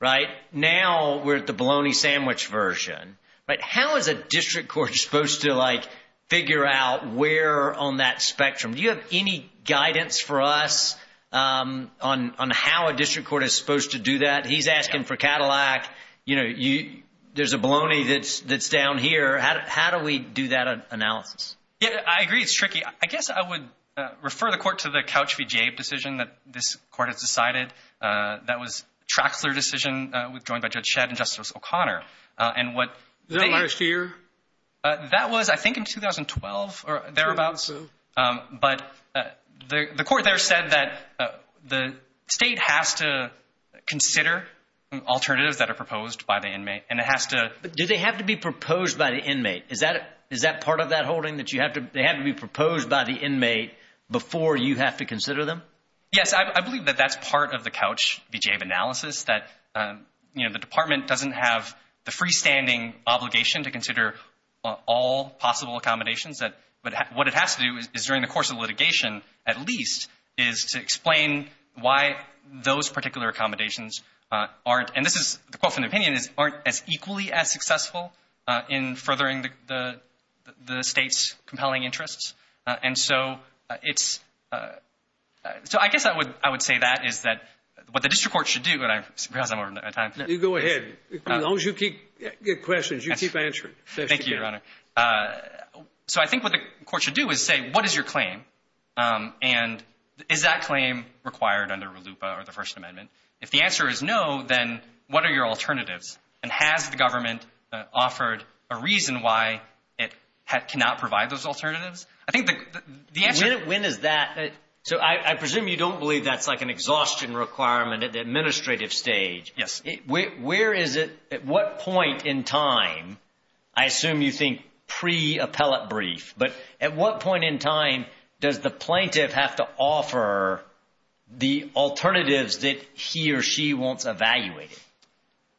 right? Now we're at the bologna sandwich version, right? How is a district court supposed to like figure out where on that spectrum? Do you have any guidance for us, um, on, on how a district court is supposed to do that? He's asking for Cadillac, you know, you, there's a bologna that's, that's down here. How, how do we do that analysis? Yeah, I agree. It's tricky. I guess I would refer the court to the couch VGA decision that this court has decided. Uh, that was Traxler decision, uh, with joined by Judge Shedd and Justice O'Connor. Uh, and what. Is that last year? Uh, that was, I think in 2012 or thereabouts. Um, but, uh, the, the court there said that, uh, the state has to consider alternatives that are proposed by the inmate and it has to, do they have to be proposed by the inmate? Is that, is that part of that holding that you have to, they have to be proposed by the inmate before you have to consider them? Yes. I believe that that's part of the couch VGA analysis that, um, you know, the department doesn't have the freestanding obligation to consider all possible accommodations that, but what it has to do is during the course of litigation, at least is to explain why those particular accommodations, uh, aren't, and this is the quote from the opinion is aren't as equally as successful, uh, in furthering the, the, the state's compelling interests. Uh, and so, uh, it's, uh, uh, so I guess I would, I would say that is that what the district court should do. And I realize I'm running out of time. You go ahead. Thank you, Your Honor. Uh, so I think what the court should do is say, what is your claim? Um, and is that claim required under Lupa or the first amendment? If the answer is no, then what are your alternatives? And has the government, uh, offered a reason why it cannot provide those alternatives? I think the answer, when is that? So I presume you don't believe that's like an exhaustion requirement at the administrative stage. Yes. Where, where is it? At what point in time, I assume you think pre-appellate brief, but at what point in time does the plaintiff have to offer the alternatives that he or she wants evaluated?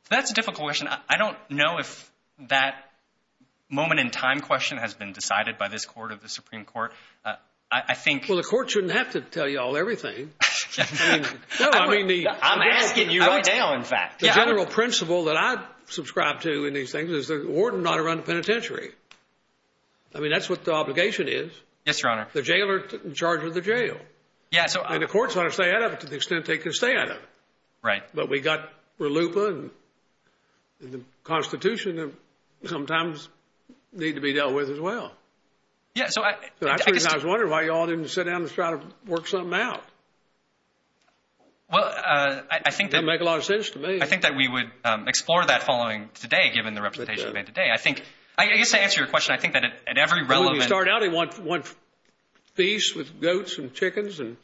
That's a difficult question. I don't know if that moment in time question has been decided by this court of the Supreme Court. Uh, I think. Well, the court shouldn't have to tell you all everything. I mean, I'm asking you right now. The general principle that I subscribe to in these things is the warden not to run the penitentiary. I mean, that's what the obligation is. Yes, Your Honor. The jailor in charge of the jail and the courts ought to stay out of it to the extent they can stay out of it. Right. But we got Lupa and the constitution sometimes need to be dealt with as well. Yeah. So I was wondering why y'all didn't sit down and try to work something out. Well, uh, I think that make a lot of sense to me. I think that we would explore that following today, given the representation of it today, I think, I guess to answer your question, I think that at every relevant. We started out in one piece with goats and chickens and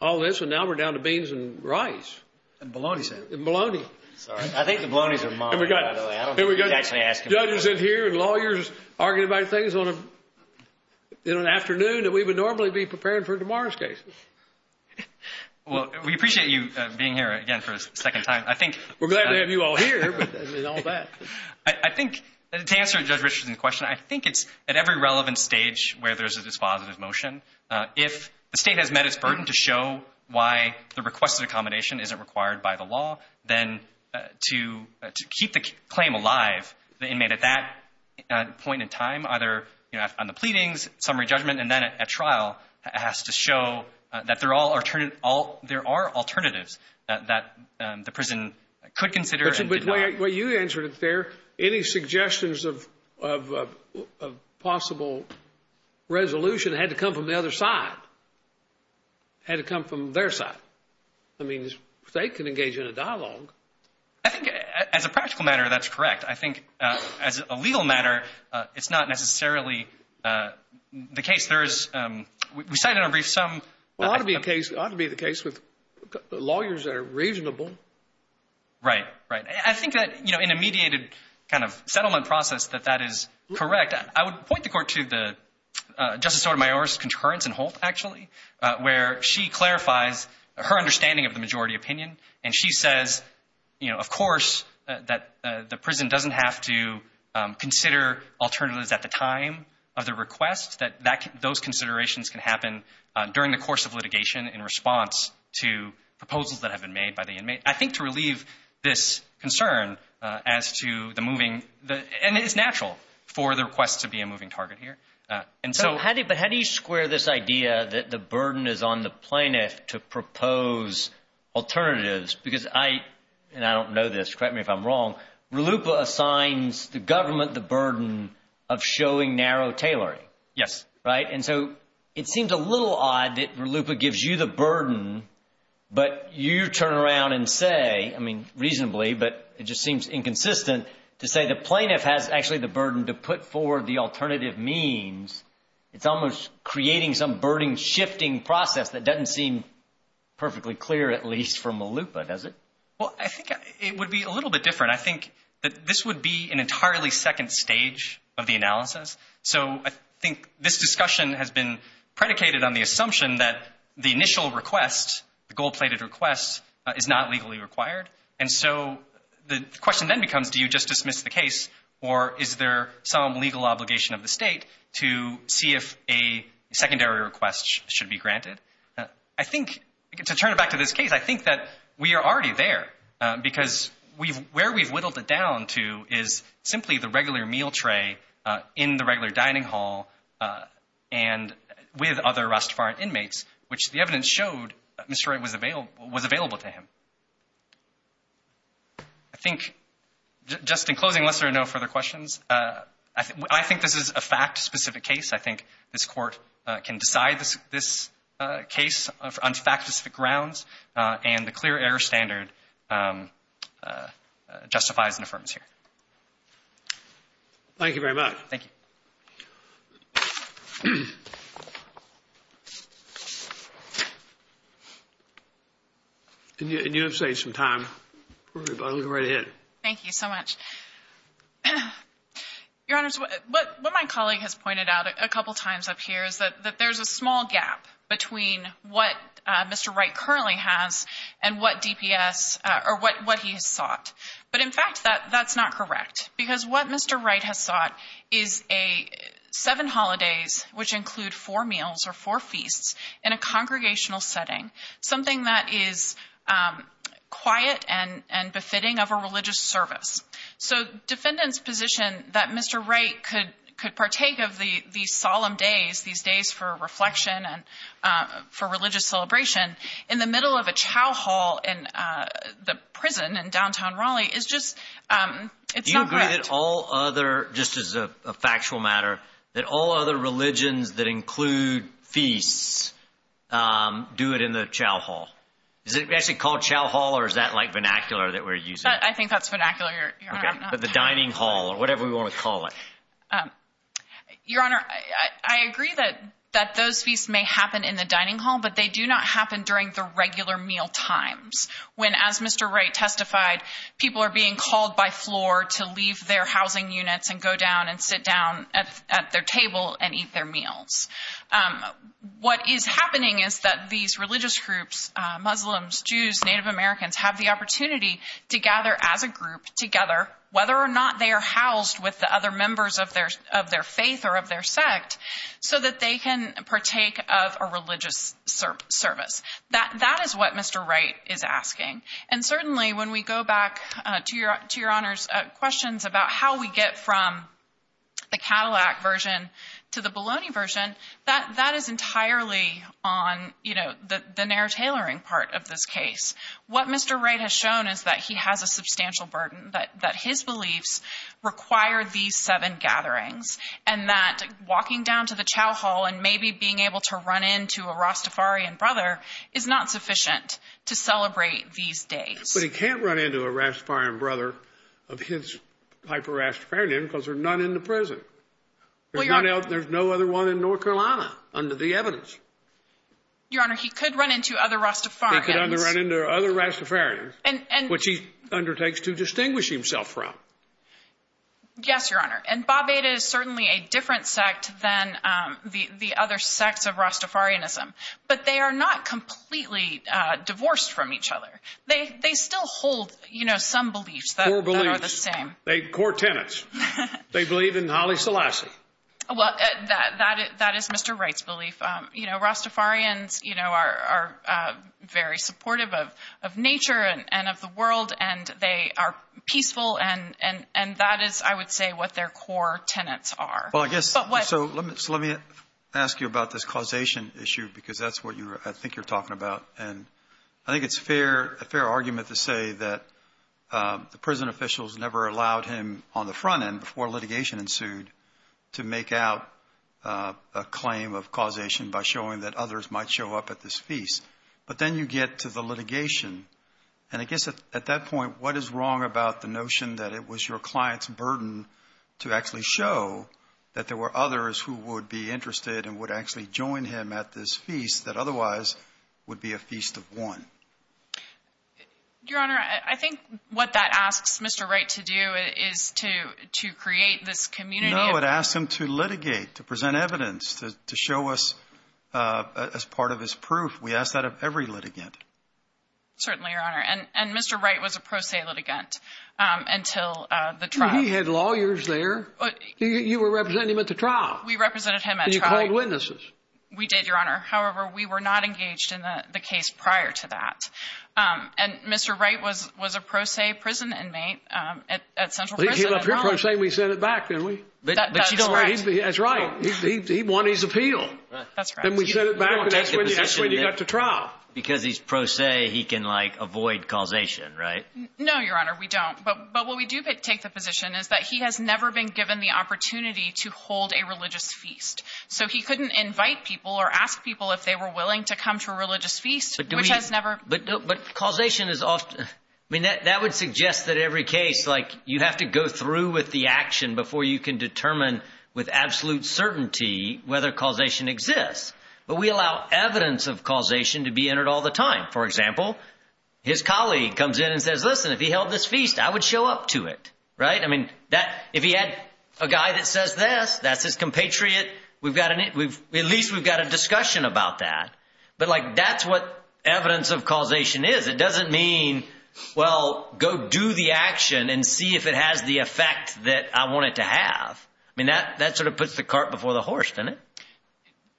all this. And now we're down to beans and rice. And bologna, sir. And bologna. Sorry. I think the bologna's are mine, by the way, I don't think he's actually asking about it. We got judges in here and lawyers arguing about things on a, in an afternoon that we would normally be preparing for tomorrow's case. Well, we appreciate you being here again for a second time. I think we're glad to have you all here. But I think to answer judge Richardson's question, I think it's at every relevant stage where there's a dispositive motion. Uh, if the state has met its burden to show why the requested accommodation isn't required by the law, then to keep the claim alive, the inmate at that point in time, either on the pleadings summary judgment, and then at trial has to show that they're all alternative, all, there are alternatives that, that, um, the prison could consider. But you answered it there. Any suggestions of, of, of possible resolution had to come from the other side, had to come from their side. I mean, they can engage in a dialogue. I think as a practical matter, that's correct. I think, uh, as a legal matter, uh, it's not necessarily, uh, the case there is, um, we cited a brief sum. Well, it ought to be a case, ought to be the case with lawyers that are reasonable. Right, right. I think that, you know, in a mediated kind of settlement process that that is correct, I would point the court to the, uh, Justice Sotomayor's concurrence in Holt actually, uh, where she clarifies her understanding of the majority opinion. And she says, you know, of course that, uh, the prison doesn't have to, um, Uh, during the course of litigation in response to proposals that have been made by the inmate, I think to relieve this concern, uh, as to the moving the, and it's natural for the request to be a moving target here. Uh, and so how do you, but how do you square this idea that the burden is on the plaintiff to propose alternatives because I, and I don't know this, correct me if I'm wrong, RLUIPA assigns the government the burden of showing narrow tailoring, right? And so it seems a little odd that RLUIPA gives you the burden, but you turn around and say, I mean, reasonably, but it just seems inconsistent to say the plaintiff has actually the burden to put forward the alternative means it's almost creating some burden shifting process that doesn't seem perfectly clear, at least from RLUIPA, does it? Well, I think it would be a little bit different. I think that this would be an entirely second stage of the analysis. So I think this discussion has been predicated on the assumption that the initial request, the gold-plated request is not legally required. And so the question then becomes, do you just dismiss the case or is there some legal obligation of the state to see if a secondary request should be granted? Uh, I think to turn it back to this case, I think that we are already there, uh, because where we've whittled it down to is simply the regular meal tray, uh, in the regular dining hall, uh, and with other Rastafarian inmates, which the evidence showed Mr. Wright was available to him. I think just in closing, unless there are no further questions, uh, I think this is a fact specific case. I think this court can decide this case on fact specific grounds, uh, and the clear standard, um, uh, justifies an affirmance here. Thank you very much. Thank you. And you have saved some time. We're going to go right ahead. Thank you so much. Your Honor, what my colleague has pointed out a couple of times up here is that there's a small gap between what, uh, Mr. Wright currently has and what DPS, uh, or what, what he has sought. But in fact, that that's not correct because what Mr. Wright has sought is a seven holidays, which include four meals or four feasts in a congregational setting, something that is, um, quiet and, and befitting of a religious service. So defendant's position that Mr. Wright could, could partake of the, these solemn days, these days for reflection and, uh, for religious celebration in the middle of a chow hall in, uh, the prison in downtown Raleigh is just, um, it's not correct. Do you agree that all other, just as a factual matter, that all other religions that include feasts, um, do it in the chow hall? Is it actually called chow hall or is that like vernacular that we're using? I think that's vernacular, Your Honor. Okay. The dining hall or whatever we want to call it. Um, Your Honor, I agree that, that those feasts may happen in the dining hall, but they do not happen during the regular meal times when, as Mr. Wright testified, people are being called by floor to leave their housing units and go down and sit down at their table and eat their meals. Um, what is happening is that these religious groups, uh, Muslims, Jews, Native Americans have the opportunity to gather as a group together, whether or not they are housed with the other members of their, of their faith or of their sect so that they can partake of a religious service. That, that is what Mr. Wright is asking. And certainly when we go back, uh, to your, to your Honor's, uh, questions about how we get from the Cadillac version to the Bologna version, that, that is entirely on, you know, the, the narrow tailoring part of this case. What Mr. Wright has shown is that he has a substantial burden, that, that his beliefs require these seven gatherings. And that walking down to the chow hall and maybe being able to run into a Rastafarian brother is not sufficient to celebrate these days. But he can't run into a Rastafarian brother of his type of Rastafarian name because there's none in the prison. There's none else. There's no other one in North Carolina under the evidence. Your Honor, he could run into other Rastafarians. He could run into other Rastafarians, which he undertakes to distinguish himself from. Yes, Your Honor. And Babetta is certainly a different sect than, um, the, the other sects of Rastafarianism. But they are not completely, uh, divorced from each other. They, they still hold, you know, some beliefs that are the same. They, core tenets. They believe in Haile Selassie. Well, that, that, that is Mr. Wright's belief. You know, Rastafarians, you know, are, are, uh, very supportive of, of nature and, and of the world and they are peaceful and, and, and that is, I would say, what their core tenets are. Well, I guess, so let me, so let me ask you about this causation issue because that's what you're, I think you're talking about, and I think it's fair, a fair argument to say that, um, the prison officials never allowed him on the front end before litigation ensued to make out, uh, a causation by showing that others might show up at this feast. But then you get to the litigation and I guess at, at that point, what is wrong about the notion that it was your client's burden to actually show that there were others who would be interested and would actually join him at this feast that otherwise would be a feast of one? Your Honor, I think what that asks Mr. Wright to do is to, to create this community of... uh, as part of his proof. We ask that of every litigant. Certainly, Your Honor. And, and Mr. Wright was a pro se litigant, um, until, uh, the trial. He had lawyers there. You were representing him at the trial. We represented him at trial. And you called witnesses. We did, Your Honor. However, we were not engaged in the case prior to that. Um, and Mr. Wright was, was a pro se prison inmate, um, at, at Central Prison. Well, he came up here pro se and we sent it back, didn't we? That, that's correct. That's right. He, he, he won his appeal. That's right. Then we sent it back and that's when you, that's when you got to trial. Because he's pro se, he can like avoid causation, right? No, Your Honor. We don't. But, but what we do take the position is that he has never been given the opportunity to hold a religious feast. So he couldn't invite people or ask people if they were willing to come to a religious feast, which has never... But, but causation is often, I mean, that, that would suggest that every case, like you have to go through with the action before you can determine with absolute certainty, whether causation exists, but we allow evidence of causation to be entered all the time. For example, his colleague comes in and says, listen, if he held this feast, I would show up to it, right? I mean, that if he had a guy that says this, that's his compatriot, we've got an, we've, at least we've got a discussion about that, but like, that's what evidence of causation is. It doesn't mean, well, go do the action and see if it has the effect that I want it to have. I mean, that, that sort of puts the cart before the horse, doesn't it?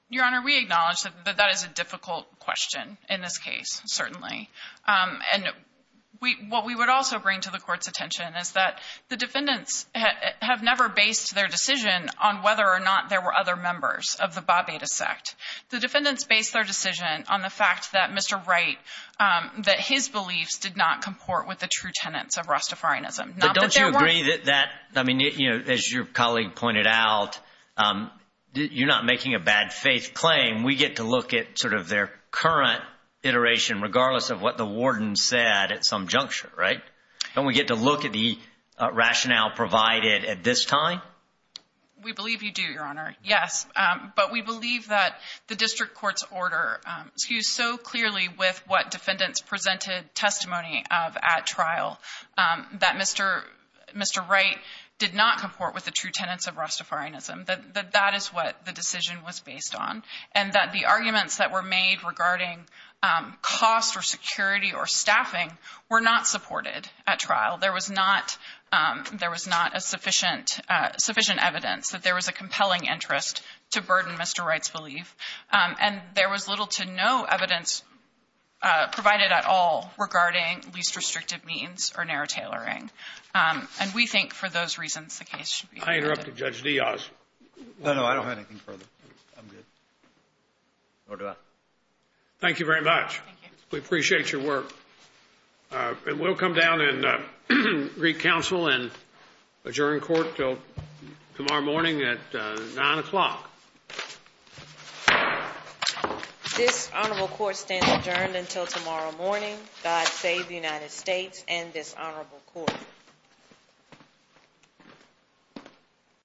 Your Honor, we acknowledge that that is a difficult question in this case, certainly. And we, what we would also bring to the court's attention is that the defendants have never based their decision on whether or not there were other members of the Babeta sect. The defendants based their decision on the fact that Mr. Wright, that his beliefs did not comport with the true tenets of Rastafarianism. But don't you agree that, that, I mean, you know, as your colleague pointed out, you're not making a bad faith claim. We get to look at sort of their current iteration, regardless of what the warden said at some juncture, right? Don't we get to look at the rationale provided at this time? We believe you do, Your Honor. Yes. But we believe that the district court's order skews so clearly with what Mr. Wright did not comport with the true tenets of Rastafarianism, that that is what the decision was based on. And that the arguments that were made regarding cost or security or staffing were not supported at trial. There was not a sufficient evidence that there was a compelling interest to burden Mr. Wright's belief. And there was little to no evidence provided at all regarding least restrictive means or narrow tailoring. Um, and we think for those reasons, the case should be. I interrupted Judge Diaz. No, no. I don't have anything further. I'm good. Or do I? Thank you very much. We appreciate your work. Uh, and we'll come down and, uh, re-counsel and adjourn court till tomorrow morning at, uh, nine o'clock. This honorable court stands adjourned until tomorrow morning. God save the United States and this honorable court. Thank you.